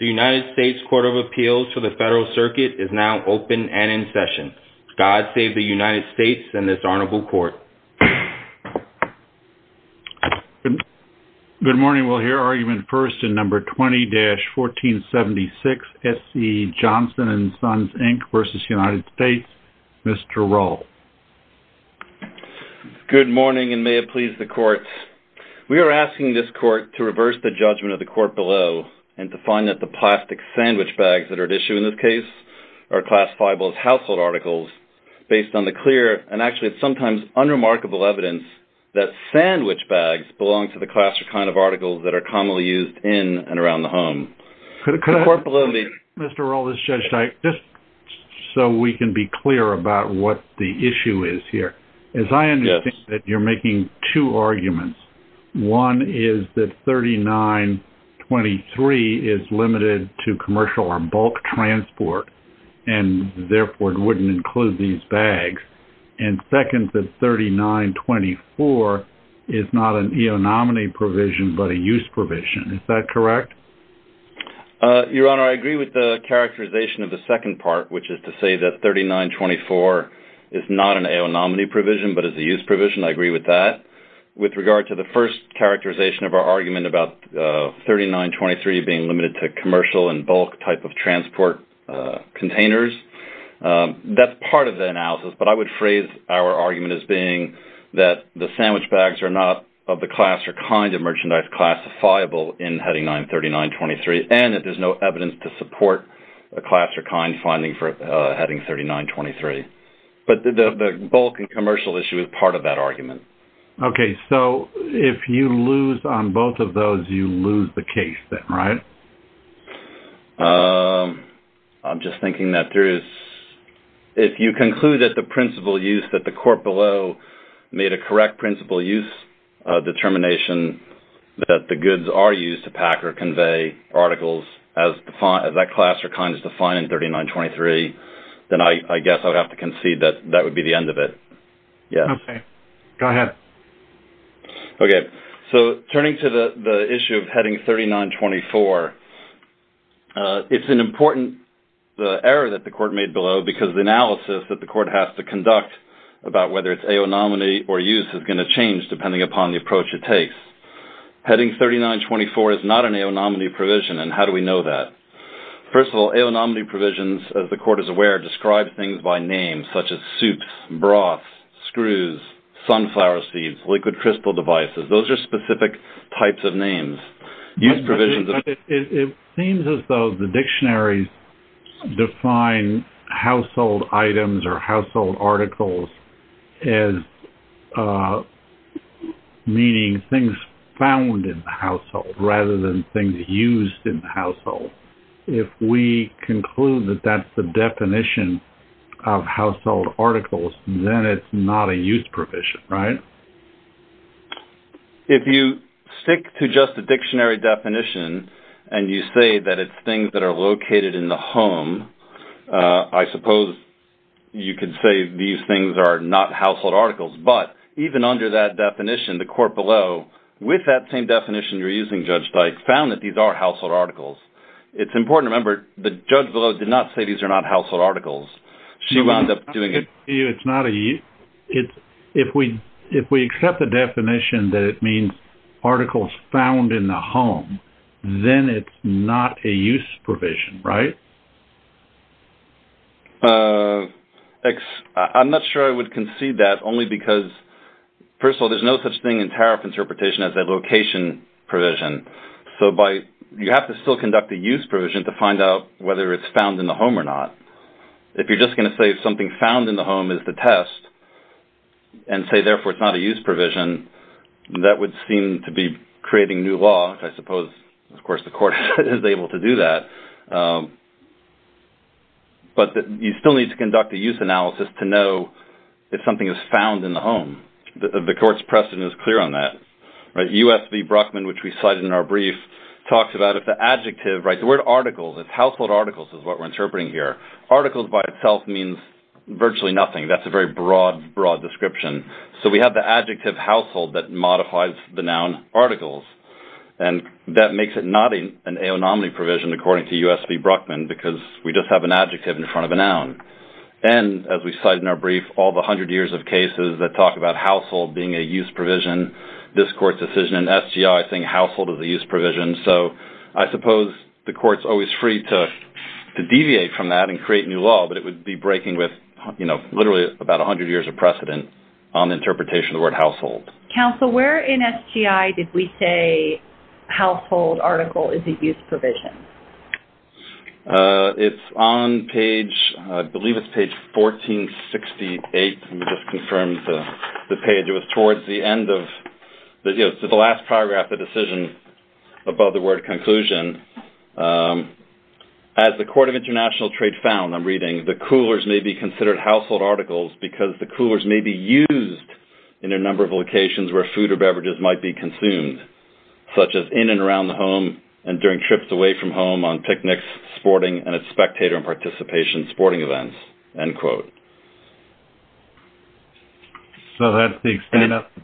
The United States Court of Appeals for the Federal Circuit is now open and in session. God save the United States and this Honorable Court. Good morning. We'll hear argument first in No. 20-1476, S.C. Johnson & Son Inc. v. United States. Mr. Rohl. Good morning and may it please the Court. We are asking this Court to reverse the judgment of the Court below and to find that the plastic sandwich bags that are at issue in this case are classifiable as household articles based on the clear and actually sometimes unremarkable evidence that sandwich bags belong to the class or kind of articles that are commonly used in and around the home. The Court below me. Mr. Rohl, this is Judge Dyke. Just so we can be clear about what the issue is here. Yes. As I understand it, you're making two arguments. One is that 3923 is limited to commercial or bulk transport and therefore wouldn't include these bags. And second, that 3924 is not an eonominy provision but a use provision. Is that correct? Your Honor, I agree with the characterization of the second part, which is to say that 3924 is not an eonominy provision but is a use provision. I agree with that. With regard to the first characterization of our argument about 3923 being limited to commercial and bulk type of transport containers, that's part of the analysis. But I would phrase our argument as being that the sandwich bags are not of the class or kind of merchandise classifiable in Heading 93923 and that there's no evidence to support a class or kind finding for Heading 3923. But the bulk and commercial issue is part of that argument. Okay. So if you lose on both of those, you lose the case then, right? I'm just thinking that there is – if you conclude that the principal use that the court below made a correct principal use determination that the goods are used to pack or convey articles as that class or kind is defined in 3923, then I guess I would have to concede that that would be the end of it. Yes. Okay. Go ahead. It seems as though the dictionaries define household items or household articles as meaning things found in the household rather than things used in the household. If we conclude that that's the definition of household articles, then it's not a use provision, right? If you stick to just the dictionary definition and you say that it's things that are located in the home, I suppose you could say these things are not household articles. But even under that definition, the court below, with that same definition you're using, Judge Dyke, found that these are household articles. It's important to remember that Judge Below did not say these are not household articles. If we accept the definition that it means articles found in the home, then it's not a use provision, right? I'm not sure I would concede that only because, first of all, there's no such thing in tariff interpretation as a location provision. So you have to still conduct a use provision to find out whether it's found in the home or not. If you're just going to say something found in the home is the test and say, therefore, it's not a use provision, that would seem to be creating new law, which I suppose, of course, the court is able to do that. But you still need to conduct a use analysis to know if something is found in the home. The court's precedent is clear on that. U.S. v. Brockman, which we cited in our brief, talks about if the adjective, right, the word articles, if household articles is what we're interpreting here, articles by itself means virtually nothing. That's a very broad, broad description. So we have the adjective household that modifies the noun articles. And that makes it not an aonomaly provision, according to U.S. v. Brockman, because we just have an adjective in front of a noun. And as we cite in our brief, all the hundred years of cases that talk about household being a use provision, this court's decision in SGI, I think, household is a use provision. So I suppose the court's always free to deviate from that and create new law, but it would be breaking with literally about a hundred years of precedent on the interpretation of the word household. Counsel, where in SGI did we say household article is a use provision? It's on page, I believe it's page 1468. Let me just confirm the page. It was towards the end of the last paragraph, the decision above the word conclusion. As the Court of International Trade found, I'm reading, the coolers may be considered household articles because the coolers may be used in a number of locations where food or beverages might be consumed, such as in and around the home and during trips away from home on picnics, sporting, and at spectator and participation sporting events, end quote. So that's the extent of it?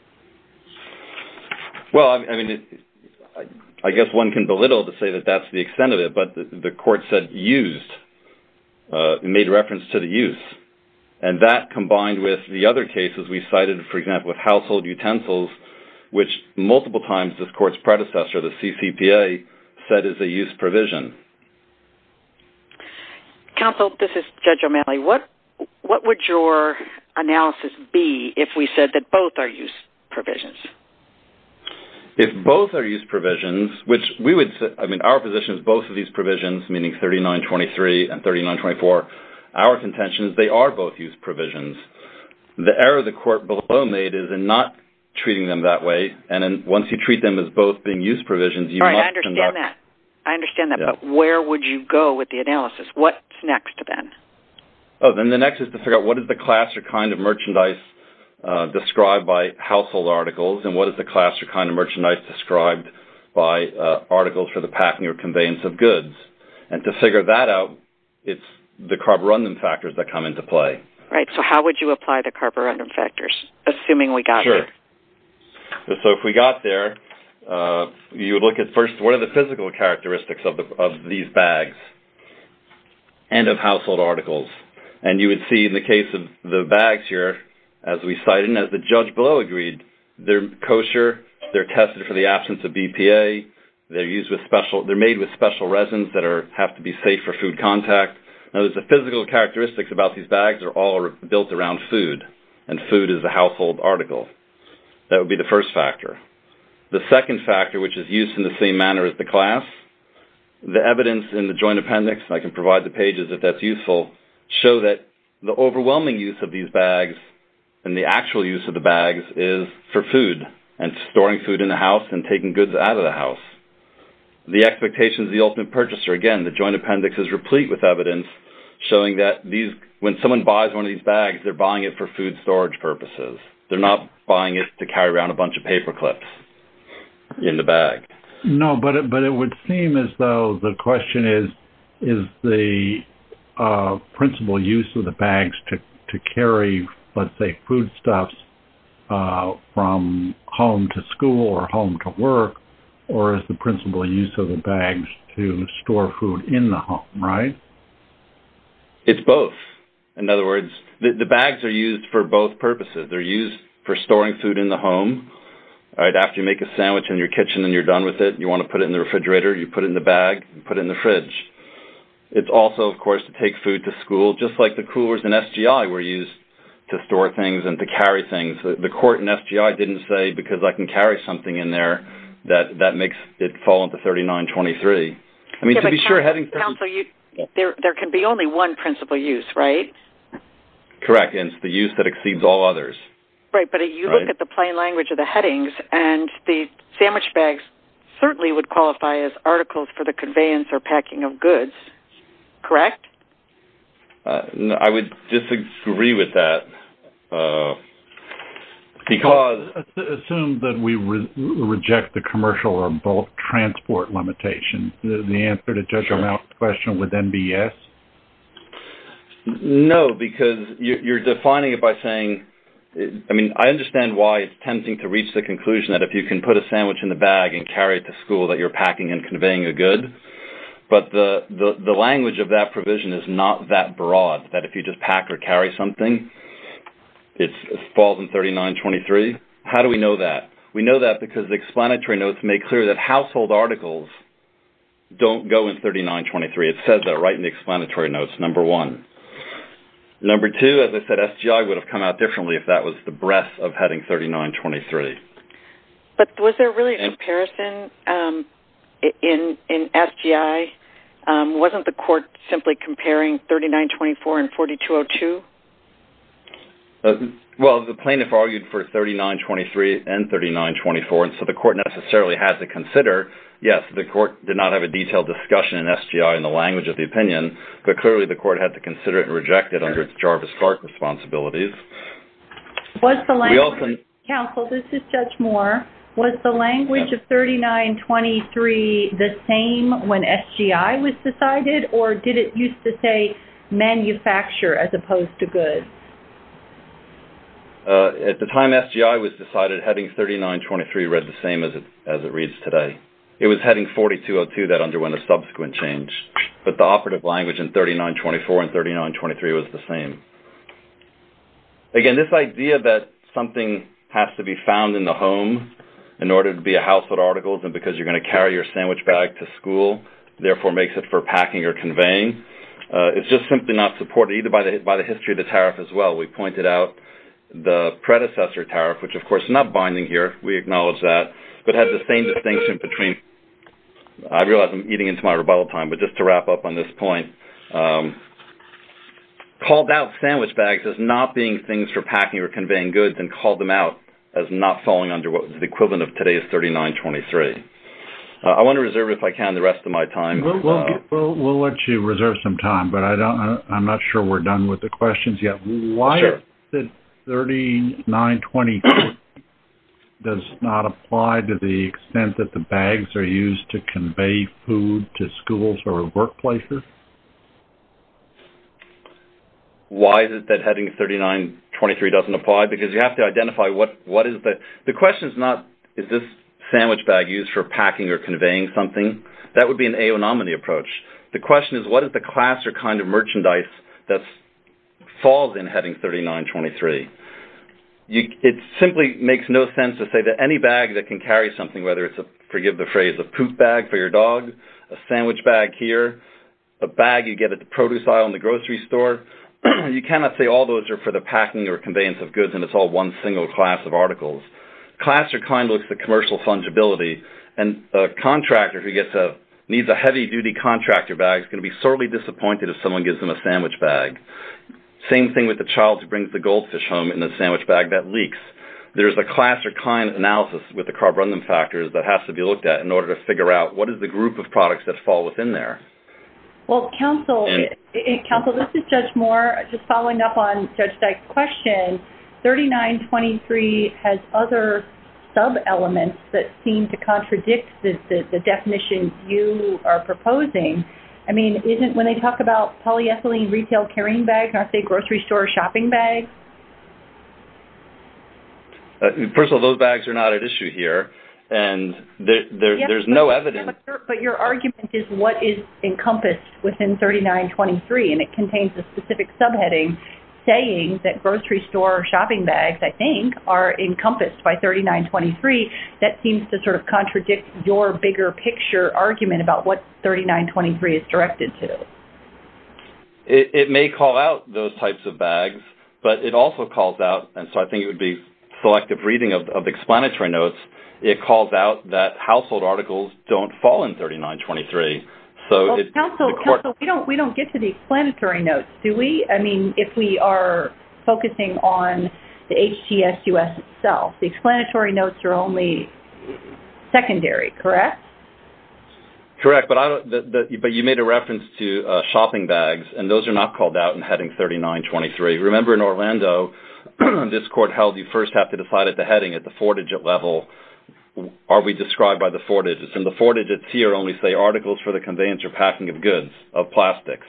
Well, I mean, I guess one can belittle to say that that's the extent of it, but the court said used and made reference to the use, and that combined with the other cases we cited, for example, with household utensils, which multiple times this court's predecessor, the CCPA, said is a use provision. Counsel, this is Judge O'Malley. What would your analysis be if we said that both are use provisions? If both are use provisions, which we would say, I mean, our position is both of these provisions, meaning 3923 and 3924, our contention is they are both use provisions. The error the court below made is in not treating them that way, and then once you treat them as both being use provisions, you must conduct... Where would you go with the analysis? What's next then? Oh, then the next is to figure out what is the class or kind of merchandise described by household articles, and what is the class or kind of merchandise described by articles for the packing or conveyance of goods. And to figure that out, it's the carborundum factors that come into play. Right. So how would you apply the carborundum factors, assuming we got there? Sure. So if we got there, you would look at first what are the physical characteristics of these bags and of household articles. And you would see in the case of the bags here, as we cited and as the judge below agreed, they're kosher, they're tested for the absence of BPA, they're made with special resins that have to be safe for food contact. Now, the physical characteristics about these bags are all built around food, and food is a household article. That would be the first factor. The second factor, which is used in the same manner as the class, the evidence in the joint appendix, and I can provide the pages if that's useful, show that the overwhelming use of these bags and the actual use of the bags is for food and storing food in the house and taking goods out of the house. The expectation is the ultimate purchaser. Again, the joint appendix is replete with evidence showing that when someone buys one of these bags, they're buying it for food storage purposes. They're not buying it to carry around a bunch of paper clips in the bag. No, but it would seem as though the question is, is the principal use of the bags to carry, let's say, foodstuffs from home to school or home to work, or is the principal use of the bags to store food in the home, right? It's both. In other words, the bags are used for both purposes. They're used for storing food in the home. After you make a sandwich in your kitchen and you're done with it and you want to put it in the refrigerator, you put it in the bag and put it in the fridge. It's also, of course, to take food to school, just like the coolers in SGI were used to store things and to carry things. The court in SGI didn't say, because I can carry something in there, that that makes it fall into 3923. Counsel, there can be only one principal use, right? Correct, and it's the use that exceeds all others. Right, but if you look at the plain language of the headings, and the sandwich bags certainly would qualify as articles for the conveyance or packing of goods, correct? I would disagree with that. Assume that we reject the commercial or bulk transport limitation. The answer to Judge Armant's question would then be yes? No, because you're defining it by saying, I mean, I understand why it's tempting to reach the conclusion that if you can put a sandwich in the bag and carry it to school that you're packing and conveying a good, but the language of that provision is not that broad, that if you just pack or carry something, it falls in 3923. How do we know that? We know that because the explanatory notes make clear that household articles don't go in 3923. It says that right in the explanatory notes, number one. Number two, as I said, SGI would have come out differently if that was the breadth of heading 3923. But was there really a comparison in SGI? Wasn't the court simply comparing 3924 and 4202? Well, the plaintiff argued for 3923 and 3924, and so the court necessarily had to consider. Yes, the court did not have a detailed discussion in SGI in the language of the opinion, but clearly the court had to consider it and reject it under its Jarvis-Clark responsibilities. Counsel, this is Judge Moore. Was the language of 3923 the same when SGI was decided, or did it used to say manufacture as opposed to goods? At the time SGI was decided, heading 3923 read the same as it reads today. It was heading 4202 that underwent a subsequent change, but the operative language in 3924 and 3923 was the same. Again, this idea that something has to be found in the home in order to be a household article and because you're going to carry your sandwich bag to school, therefore makes it for packing or conveying, is just simply not supported either by the history of the tariff as well. We pointed out the predecessor tariff, which of course is not binding here, we acknowledge that, but has the same distinction between—I realize I'm eating into my rebuttal time, but just to wrap up on this point— called out sandwich bags as not being things for packing or conveying goods and called them out as not falling under the equivalent of today's 3923. I want to reserve, if I can, the rest of my time. We'll let you reserve some time, but I'm not sure we're done with the questions yet. Why is it 3923 does not apply to the extent that the bags are used to convey food to schools or workplaces? Why is it that heading 3923 doesn't apply? Because you have to identify what is the—the question is not, is this sandwich bag used for packing or conveying something? That would be an AO nominee approach. The question is, what is the class or kind of merchandise that falls in heading 3923? It simply makes no sense to say that any bag that can carry something, whether it's a—forgive the phrase—a poop bag for your dog, a sandwich bag here, a bag you get at the produce aisle in the grocery store, you cannot say all those are for the packing or conveyance of goods and it's all one single class of articles. Class or kind looks at commercial fungibility, and a contractor who gets a—needs a heavy-duty contractor bag is going to be sorely disappointed if someone gives them a sandwich bag. Same thing with the child who brings the goldfish home in the sandwich bag. That leaks. There's a class or kind analysis with the carborundum factors that has to be looked at in order to figure out what is the group of products that fall within there. Well, counsel, this is Judge Moore. Just following up on Judge Dyke's question, 3923 has other sub-elements that seem to contradict the definitions you are proposing. I mean, isn't—when they talk about polyethylene retail carrying bags, aren't they grocery store shopping bags? First of all, those bags are not at issue here, and there's no evidence. But your argument is what is encompassed within 3923, and it contains a specific subheading saying that grocery store shopping bags, I think, are encompassed by 3923. That seems to sort of contradict your bigger picture argument about what 3923 is directed to. It may call out those types of bags, but it also calls out— and so I think it would be selective reading of explanatory notes— it calls out that household articles don't fall in 3923. Counsel, we don't get to the explanatory notes, do we? I mean, if we are focusing on the HDS-US itself, the explanatory notes are only secondary, correct? Correct, but you made a reference to shopping bags, and those are not called out in heading 3923. Remember in Orlando, this court held you first have to decide at the heading, at the four-digit level, are we described by the four digits, and the four digits here only say articles for the conveyance or packing of goods, of plastics.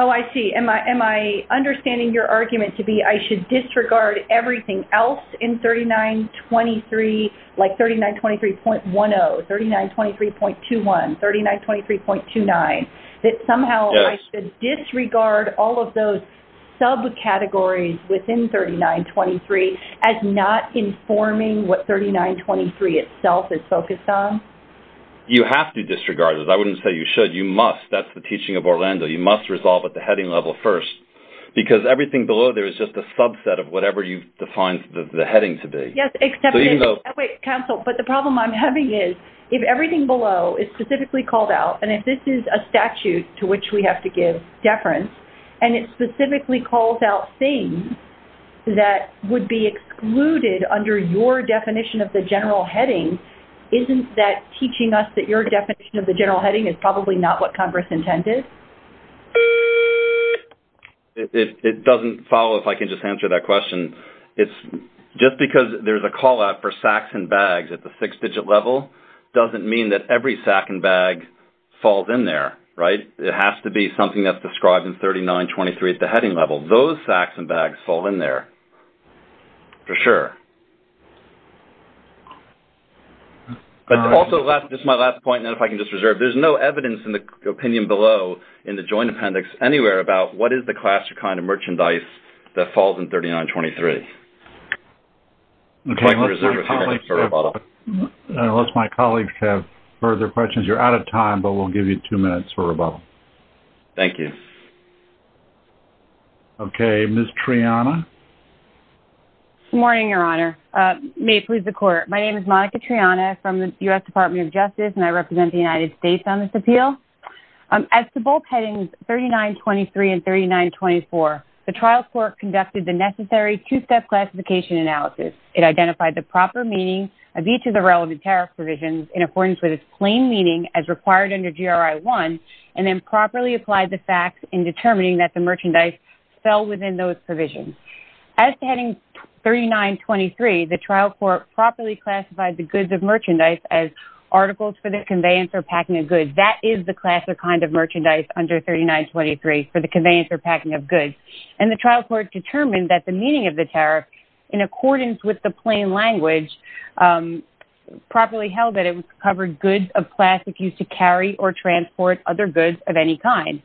Oh, I see. Am I understanding your argument to be I should disregard everything else in 3923, like 3923.10, 3923.21, 3923.29, that somehow I should disregard all of those subcategories within 3923 as not informing what 3923 itself is focused on? You have to disregard it. I wouldn't say you should. You must. That's the teaching of Orlando. You must resolve at the heading level first, because everything below there is just a subset of whatever you've defined the heading to be. Wait, counsel, but the problem I'm having is, if everything below is specifically called out, and if this is a statute to which we have to give deference, and it specifically calls out things that would be excluded under your definition of the general heading, isn't that teaching us that your definition of the general heading is probably not what Congress intended? It doesn't follow, if I can just answer that question. Just because there's a call-out for sacks and bags at the six-digit level doesn't mean that every sack and bag falls in there. It has to be something that's described in 3923 at the heading level. Those sacks and bags fall in there, for sure. But also, just my last point, and then if I can just reserve, there's no evidence in the opinion below in the Joint Appendix anywhere about what is the class or kind of merchandise that falls in 3923. Unless my colleagues have further questions, you're out of time, but we'll give you two minutes for rebuttal. Thank you. Okay, Ms. Triana. Good morning, Your Honor. May it please the Court. My name is Monica Triana from the U.S. Department of Justice, and I represent the United States on this appeal. As to both headings 3923 and 3924, the trial court conducted the necessary two-step classification analysis. It identified the proper meaning of each of the relevant tariff provisions in accordance with its plain meaning as required under GRI 1, and then properly applied the facts in determining that the merchandise fell within those provisions. As to heading 3923, the trial court properly classified the goods of merchandise as articles for the conveyance or packing of goods. That is the class or kind of merchandise under 3923, for the conveyance or packing of goods. And the trial court determined that the meaning of the tariff, in accordance with the plain language, properly held that it covered goods of class used to carry or transport other goods of any kind.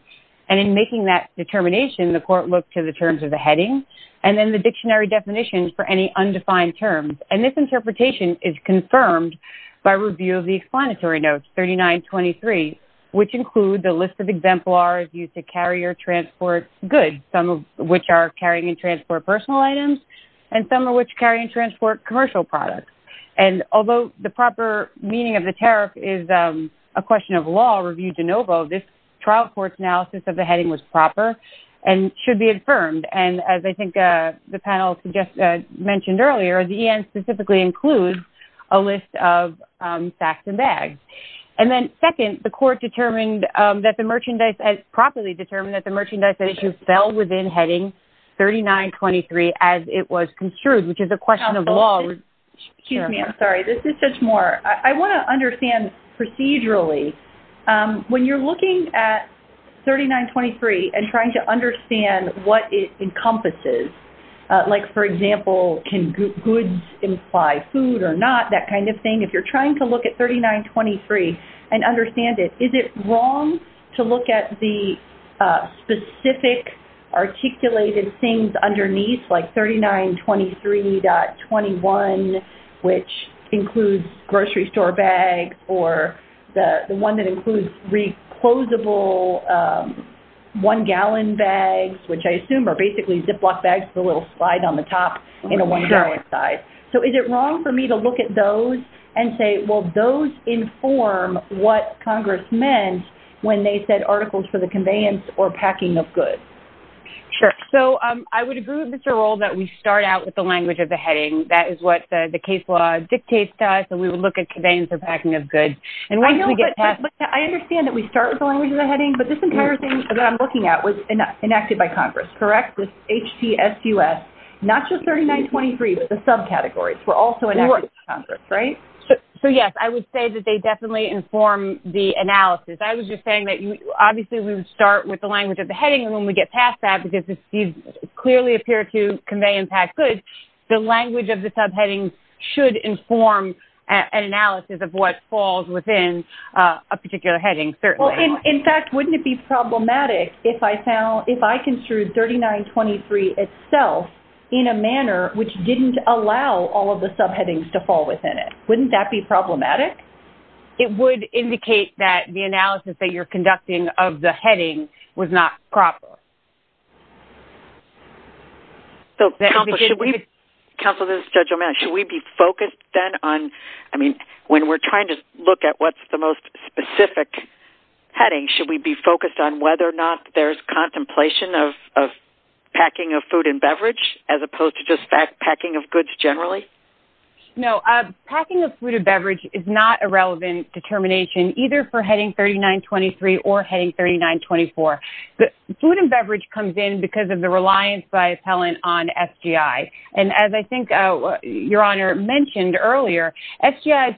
And in making that determination, the court looked to the terms of the heading and then the dictionary definitions for any undefined terms. And this interpretation is confirmed by review of the explanatory notes, 3923, which include the list of exemplars used to carry or transport goods, some of which are carrying and transport personal items, and some of which carry and transport commercial products. And although the proper meaning of the tariff is a question of law, review de novo, this trial court's analysis of the heading was proper and should be affirmed. And as I think the panel just mentioned earlier, the EN specifically includes a list of sacks and bags. And then second, the court determined that the merchandise, properly determined that the merchandise fell within heading 3923 as it was construed, which is a question of law. Excuse me. I'm sorry. This is just more. I want to understand procedurally. When you're looking at 3923 and trying to understand what it encompasses, like, for example, can goods imply food or not, that kind of thing, if you're trying to look at 3923 and understand it, is it wrong to look at the specific articulated things underneath, like 3923.21, which includes grocery store bags, or the one that includes re-closable one-gallon bags, which I assume are basically Ziploc bags with a little slide on the top in a one-gallon size. So is it wrong for me to look at those and say, well, those inform what Congress meant when they said articles for the conveyance or packing of goods? Sure. So I would agree with Mr. Rohl that we start out with the language of the heading. That is what the case law dictates to us, and we would look at conveyance or packing of goods. I understand that we start with the language of the heading, but this entire thing that I'm looking at was enacted by Congress, correct? Not just 3923, but the subcategories were also enacted by Congress, right? So, yes, I would say that they definitely inform the analysis. I was just saying that, obviously, we would start with the language of the heading, and when we get past that, because these clearly appear to convey and pack goods, the language of the subheading should inform an analysis of what falls within a particular heading, certainly. In fact, wouldn't it be problematic if I construed 3923 itself in a manner which didn't allow all of the subheadings to fall within it? Wouldn't that be problematic? It would indicate that the analysis that you're conducting of the heading was not proper. Counsel, this is Judge O'Malley. Should we be focused then on, I mean, when we're trying to look at what's the most specific heading, should we be focused on whether or not there's contemplation of packing of food and beverage as opposed to just packing of goods generally? No. Packing of food and beverage is not a relevant determination, either for heading 3923 or heading 3924. Food and beverage comes in because of the reliance by appellant on SGI, and as I think Your Honor mentioned earlier, SGI's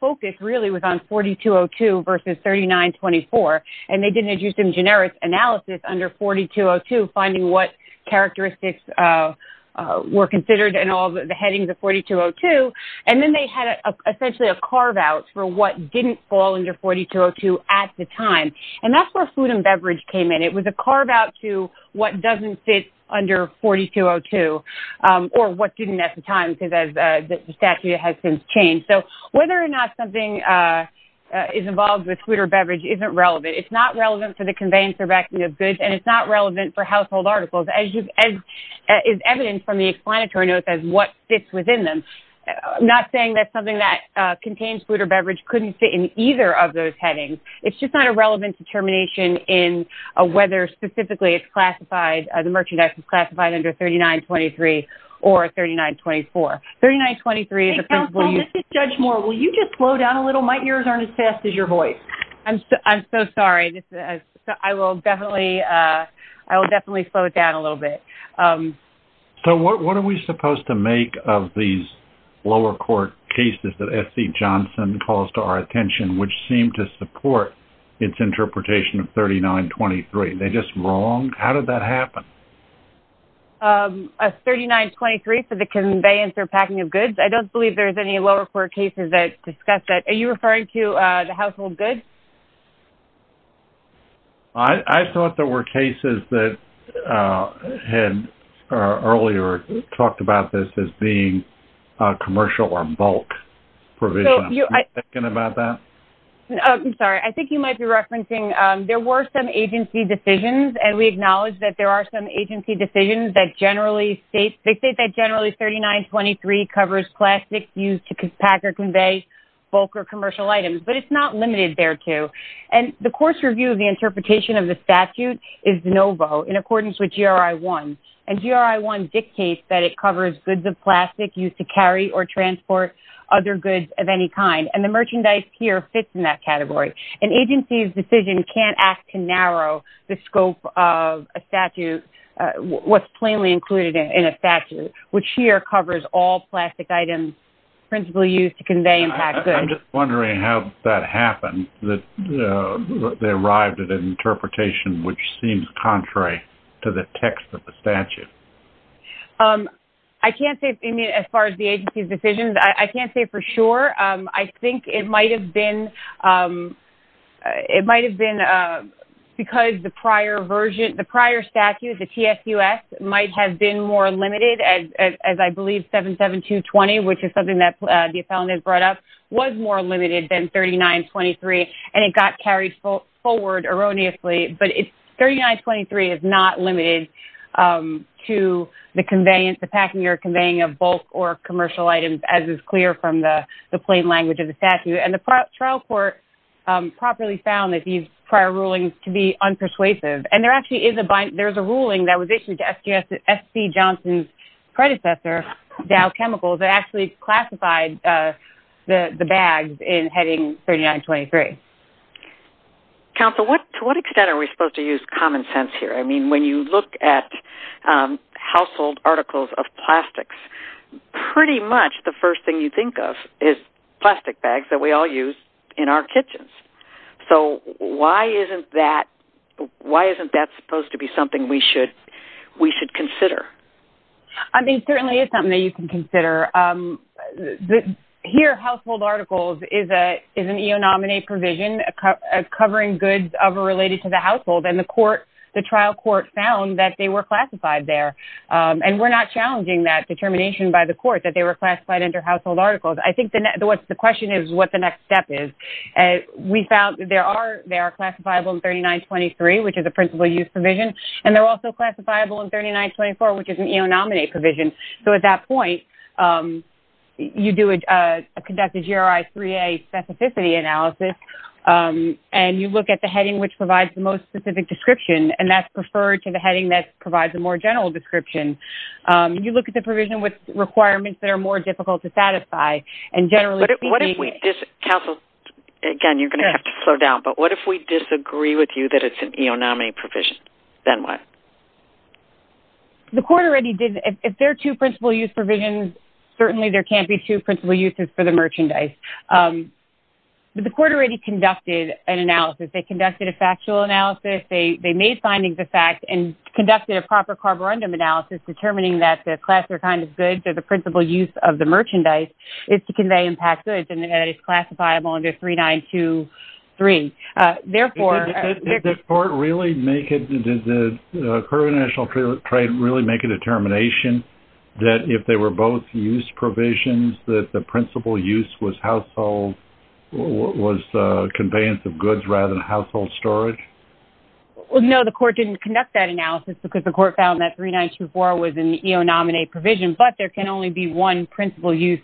focus really was on 4202 versus 3924, and they didn't do some generous analysis under 4202 finding what characteristics were considered in all the headings of 4202, and then they had essentially a carve-out for what didn't fall under 4202 at the time, and that's where food and beverage came in. It was a carve-out to what doesn't fit under 4202. Or what didn't at the time because the statute has since changed. So whether or not something is involved with food or beverage isn't relevant. It's not relevant for the conveyance or packing of goods, and it's not relevant for household articles, as is evident from the explanatory notes as what fits within them. I'm not saying that something that contains food or beverage couldn't fit in either of those headings. It's just not a relevant determination in whether specifically it's classified under 3923 or 3924. 3923 is a principal use. Counsel, this is Judge Moore. Will you just slow down a little? My ears aren't as fast as your voice. I'm so sorry. I will definitely slow it down a little bit. So what are we supposed to make of these lower court cases that S.C. Johnson calls to our attention, which seem to support its interpretation of 3923? Are they just wrong? How did that happen? 3923 for the conveyance or packing of goods. I don't believe there's any lower court cases that discuss that. Are you referring to the household goods? I thought there were cases that had earlier talked about this as being commercial or bulk provision. Are you thinking about that? I'm sorry. I think you might be referencing there were some agency decisions, and we acknowledge that there are some agency decisions that generally state that generally 3923 covers plastics used to pack or convey bulk or commercial items. But it's not limited thereto. And the course review of the interpretation of the statute is no vote, in accordance with GRI 1. And GRI 1 dictates that it covers goods of plastic used to carry or transport other goods of any kind. And the merchandise here fits in that category. An agency's decision can't ask to narrow the scope of a statute, what's plainly included in a statute, which here covers all plastic items principally used to convey and pack goods. I'm just wondering how that happened, that they arrived at an interpretation which seems contrary to the text of the statute. I can't say as far as the agency's decision. I can't say for sure. I think it might have been because the prior statute, the TSUS, might have been more limited, as I believe 77220, which is something that the appellant has brought up, was more limited than 3923, and it got carried forward erroneously. But 3923 is not limited to the packing or conveying of bulk or commercial items, as is clear from the plain language of the statute. And the trial court properly found that these prior rulings can be unpersuasive. And there actually is a ruling that was issued to S.C. Johnson's predecessor, Dow Chemicals, that actually classified the bags in heading 3923. Counsel, to what extent are we supposed to use common sense here? I mean, when you look at household articles of plastics, pretty much the first thing you think of is plastic bags that we all use in our kitchens. So why isn't that supposed to be something we should consider? I mean, it certainly is something that you can consider. Here, household articles is an eonominate provision covering goods ever related to the household, and the trial court found that they were classified there. And we're not challenging that determination by the court that they were classified under household articles. I think the question is what the next step is. We found that they are classifiable in 3923, which is a principal use provision, and they're also classifiable in 3924, which is an eonominate provision. So at that point, you do a conducted GRI 3A specificity analysis, and you look at the heading which provides the most specific description, and that's preferred to the heading that provides a more general description. You look at the provision with requirements that are more difficult to satisfy, and generally speaking. Counsel, again, you're going to have to slow down, but what if we disagree with you that it's an eonominate provision? Then what? The court already did. If there are two principal use provisions, certainly there can't be two principal uses for the merchandise. But the court already conducted an analysis. They conducted a factual analysis. They made findings of fact and conducted a proper carborundum analysis determining that the class or kind of goods or the principal use of the merchandise is to convey impact goods, and that it's classifiable under 3923. Did the court really make it? Did the current national trade really make a determination that if they were both use provisions that the principal use was household, was conveyance of goods rather than household storage? No, the court didn't conduct that analysis because the court found that 3924 was an eonominate provision, but there can only be one principal use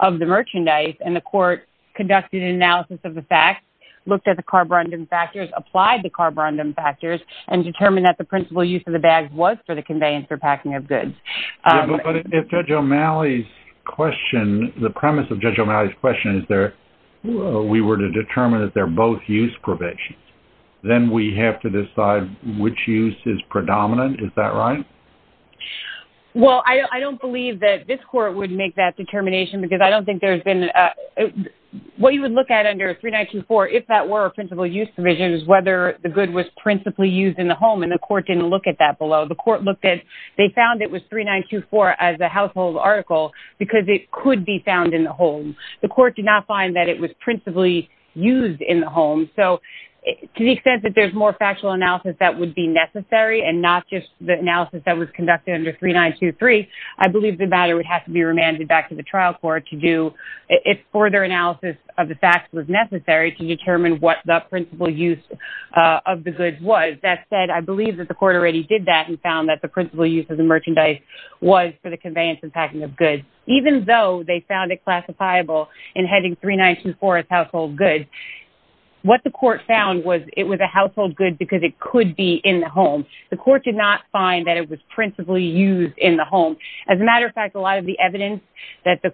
of the merchandise, and the court conducted an analysis of the fact, looked at the carborundum factors, applied the carborundum factors, and determined that the principal use of the bag was for the conveyance or packing of goods. Yeah, but if Judge O'Malley's question, the premise of Judge O'Malley's question is that we were to determine that they're both use provisions, then we have to decide which use is predominant. Is that right? Well, I don't believe that this court would make that determination because I don't think there's been, what you would look at under 3924, if that were a principal use provision, is whether the good was principally used in the home, and the court didn't look at that below. The court looked at, they found it was 3924 as a household article because it could be found in the home. The court did not find that it was principally used in the home, so to the extent that there's more factual analysis that would be necessary and not just the analysis that was conducted under 3923, I believe the matter would have to be remanded back to the trial court to do, if further analysis of the facts was necessary, to determine what the principal use of the goods was. With that said, I believe that the court already did that and found that the principal use of the merchandise was for the conveyance and packing of goods. Even though they found it classifiable in heading 3924 as household goods, what the court found was it was a household good because it could be in the home. The court did not find that it was principally used in the home. As a matter of fact, a lot of the evidence that the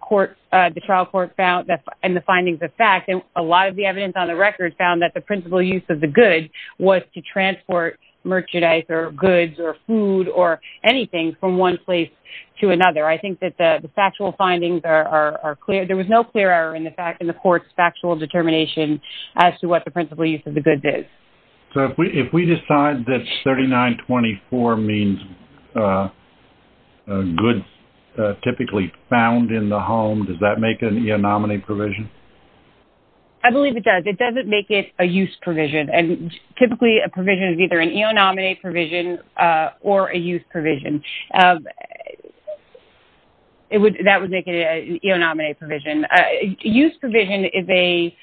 trial court found and the findings of fact, and a lot of the evidence on the record, found that the principal use of the goods was to transport merchandise or goods or food or anything from one place to another. I think that the factual findings are clear. There was no clear error in the court's factual determination as to what the principal use of the goods is. So if we decide that 3924 means goods typically found in the home, does that make it an eonominy provision? I believe it does. It doesn't make it a use provision, and typically a provision is either an eonominy provision or a use provision. That would make it an eonominy provision. A use provision is a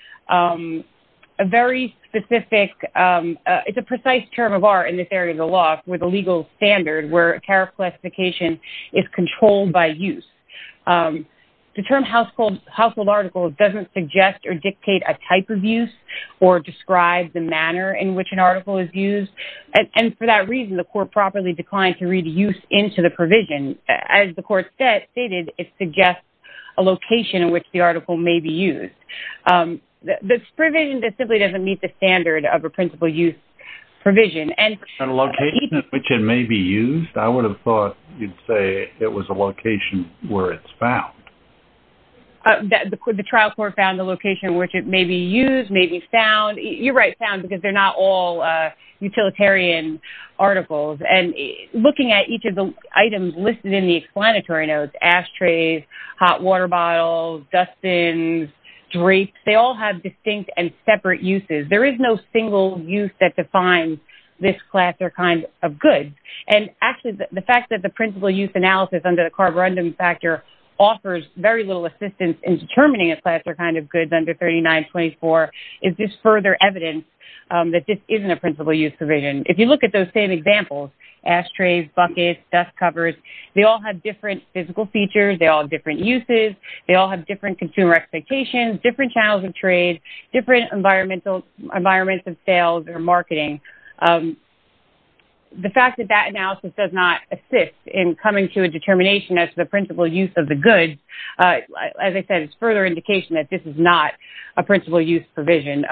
very specific, it's a precise term of art in this area of the law for the legal standard where a care of classification is controlled by use. The term household article doesn't suggest or dictate a type of use or describe the manner in which an article is used, and for that reason the court properly declined to read use into the provision. As the court stated, it suggests a location in which the article may be used. This provision simply doesn't meet the standard of a principal use provision. A location in which it may be used? I would have thought you'd say it was a location where it's found. The trial court found the location in which it may be used, may be found. You're right, found, because they're not all utilitarian articles. And looking at each of the items listed in the explanatory notes, ashtrays, hot water bottles, dustbins, drapes, they all have distinct and separate uses. There is no single use that defines this class or kind of goods. And actually the fact that the principal use analysis under the carborundum factor offers very little assistance in determining a class or kind of goods under 3924 is just further evidence that this isn't a principal use provision. If you look at those same examples, ashtrays, buckets, dust covers, they all have different physical features, they all have different uses, they all have different consumer expectations, different channels of trade, different environments of sales or marketing. The fact that that analysis does not assist in coming to a determination as to the principal use of the goods, as I said, is further indication that this is not a principal use provision.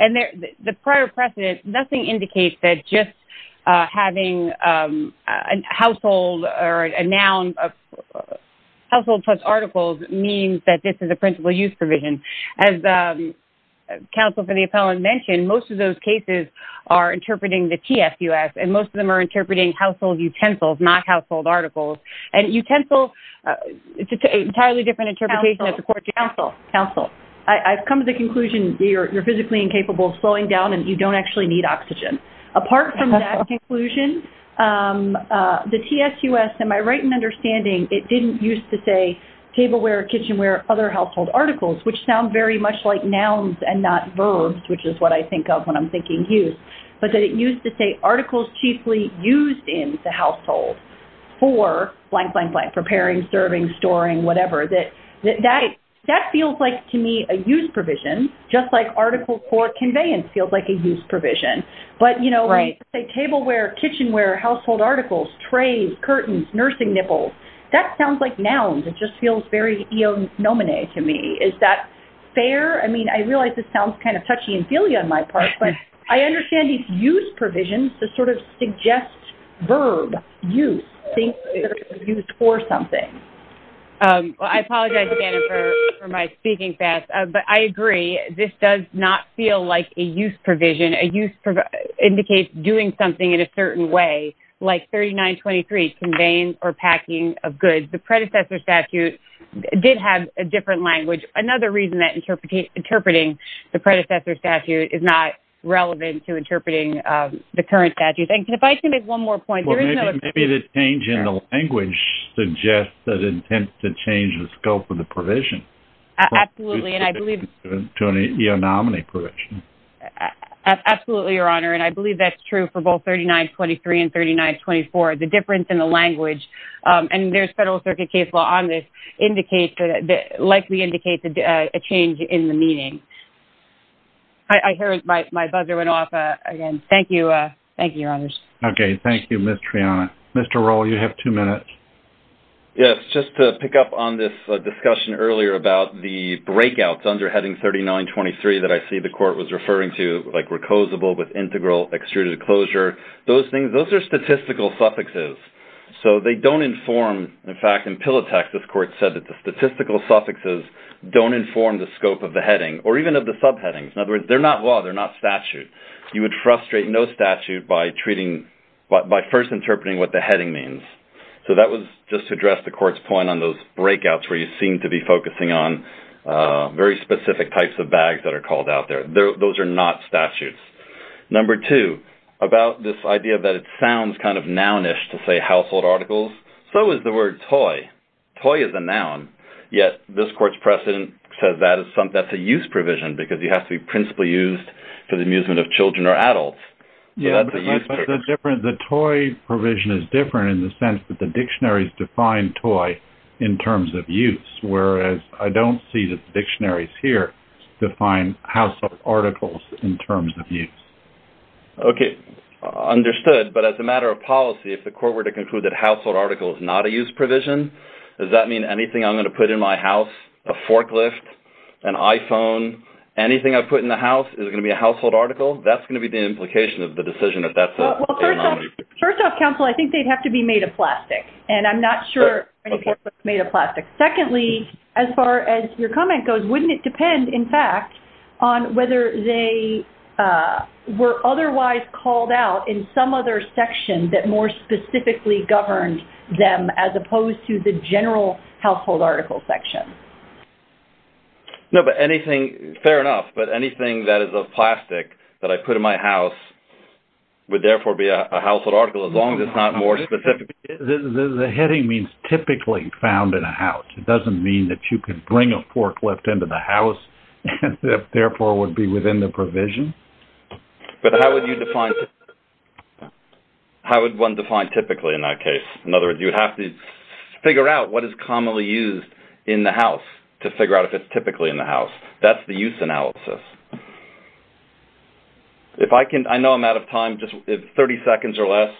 And the prior precedent, nothing indicates that just having a household or a noun of household plus articles means that this is a principal use provision. As counsel for the appellant mentioned, most of those cases are interpreting the TSUS and most of them are interpreting household utensils, not household articles. And utensils, it's an entirely different interpretation. Counsel. Counsel. Counsel. I've come to the conclusion you're physically incapable of slowing down and you don't actually need oxygen. Apart from that conclusion, the TSUS, to my right and understanding, it didn't use to say tableware, kitchenware, other household articles, which sound very much like nouns and not verbs, which is what I think of when I'm thinking use, but that it used to say articles chiefly used in the household for blank, blank, blank, preparing, serving, storing, whatever. That feels like, to me, a use provision, just like articles for conveyance feels like a use provision. But, you know, tableware, kitchenware, household articles, trays, curtains, nursing nipples, that sounds like nouns. It just feels very eonominate to me. Is that fair? I mean, I realize this sounds kind of touchy and feely on my part, but I understand these use provisions to sort of suggest verb, use, things that are used for something. Well, I apologize, Dana, for my speaking fast, but I agree. This does not feel like a use provision. A use indicates doing something in a certain way, like 3923, conveyance or packing of goods. The predecessor statute did have a different language. Another reason that interpreting the predecessor statute is not relevant to interpreting the current statute. And if I can make one more point. Maybe the change in the language suggests an intent to change the scope of the provision. Absolutely. And I believe. To an eonominate provision. Absolutely, Your Honor. And I believe that's true for both 3923 and 3924. The difference in the language. And there's federal circuit case law on this, likely indicates a change in the meaning. I heard my buzzer went off again. Thank you. Thank you, Your Honors. Okay. Thank you, Ms. Triana. Mr. Rohl, you have two minutes. Yes. Just to pick up on this discussion earlier about the breakouts under heading 3923 that I see the court was referring to, like recosable with integral extruded closure. Those things, those are statistical suffixes. So they don't inform. In fact, in Pilatex, this court said that the statistical suffixes don't inform the scope of the heading or even of the subheadings. In other words, they're not law. They're not statute. You would frustrate no statute by treating, by first interpreting what the heading means. So that was just to address the court's point on those breakouts where you seem to be focusing on very specific types of bags that are called out there. Those are not statutes. Number two, about this idea that it sounds kind of nounish to say household articles. So is the word toy. Toy is a noun. Yet this court's precedent says that's a use provision because you have to be principally used for the amusement of children or adults. So that's a use provision. The toy provision is different in the sense that the dictionaries define toy in terms of use, whereas I don't see that the dictionaries here define household articles in terms of use. Okay. Understood. But as a matter of policy, if the court were to conclude that household article is not a use provision, does that mean anything I'm going to put in my house, a forklift, an iPhone, anything I put in the house, is it going to be a household article? That's going to be the implication of the decision if that's a noun. Well, first off, counsel, I think they'd have to be made of plastic. And I'm not sure if it's made of plastic. Secondly, as far as your comment goes, wouldn't it depend, in fact, on whether they were otherwise called out in some other section that more specifically governed them as opposed to the general household article section? No, but anything, fair enough, but anything that is of plastic that I put in my house would, therefore, be a household article as long as it's not more specific. The heading means typically found in a house. It doesn't mean that you can bring a forklift into the house and, therefore, would be within the provision. But how would you define typically in that case? In other words, you would have to figure out what is commonly used in the house to figure out if it's typically in the house. That's the use analysis. I know I'm out of time, just 30 seconds or less.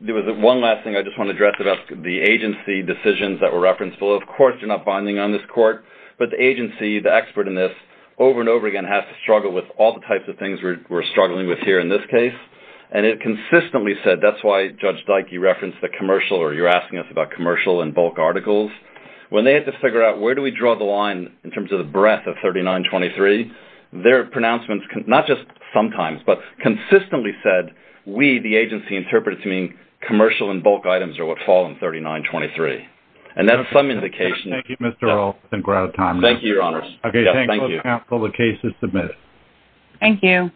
One last thing I just want to address about the agency decisions that were referenced below. Of course, you're not binding on this court, but the agency, the expert in this, over and over again, has to struggle with all the types of things we're struggling with here in this case. It consistently said, that's why Judge Dikey referenced the commercial, or you're asking us about commercial and bulk articles. When they had to figure out where do we draw the line in terms of the breadth of 3923, their pronouncements, not just sometimes, but consistently said, we, the agency interpreters, mean commercial and bulk items are what fall in 3923. That's some indication. Thank you, Mr. Olson. We're out of time. Thank you, Your Honors. Okay. Thank you. The case is submitted. Thank you.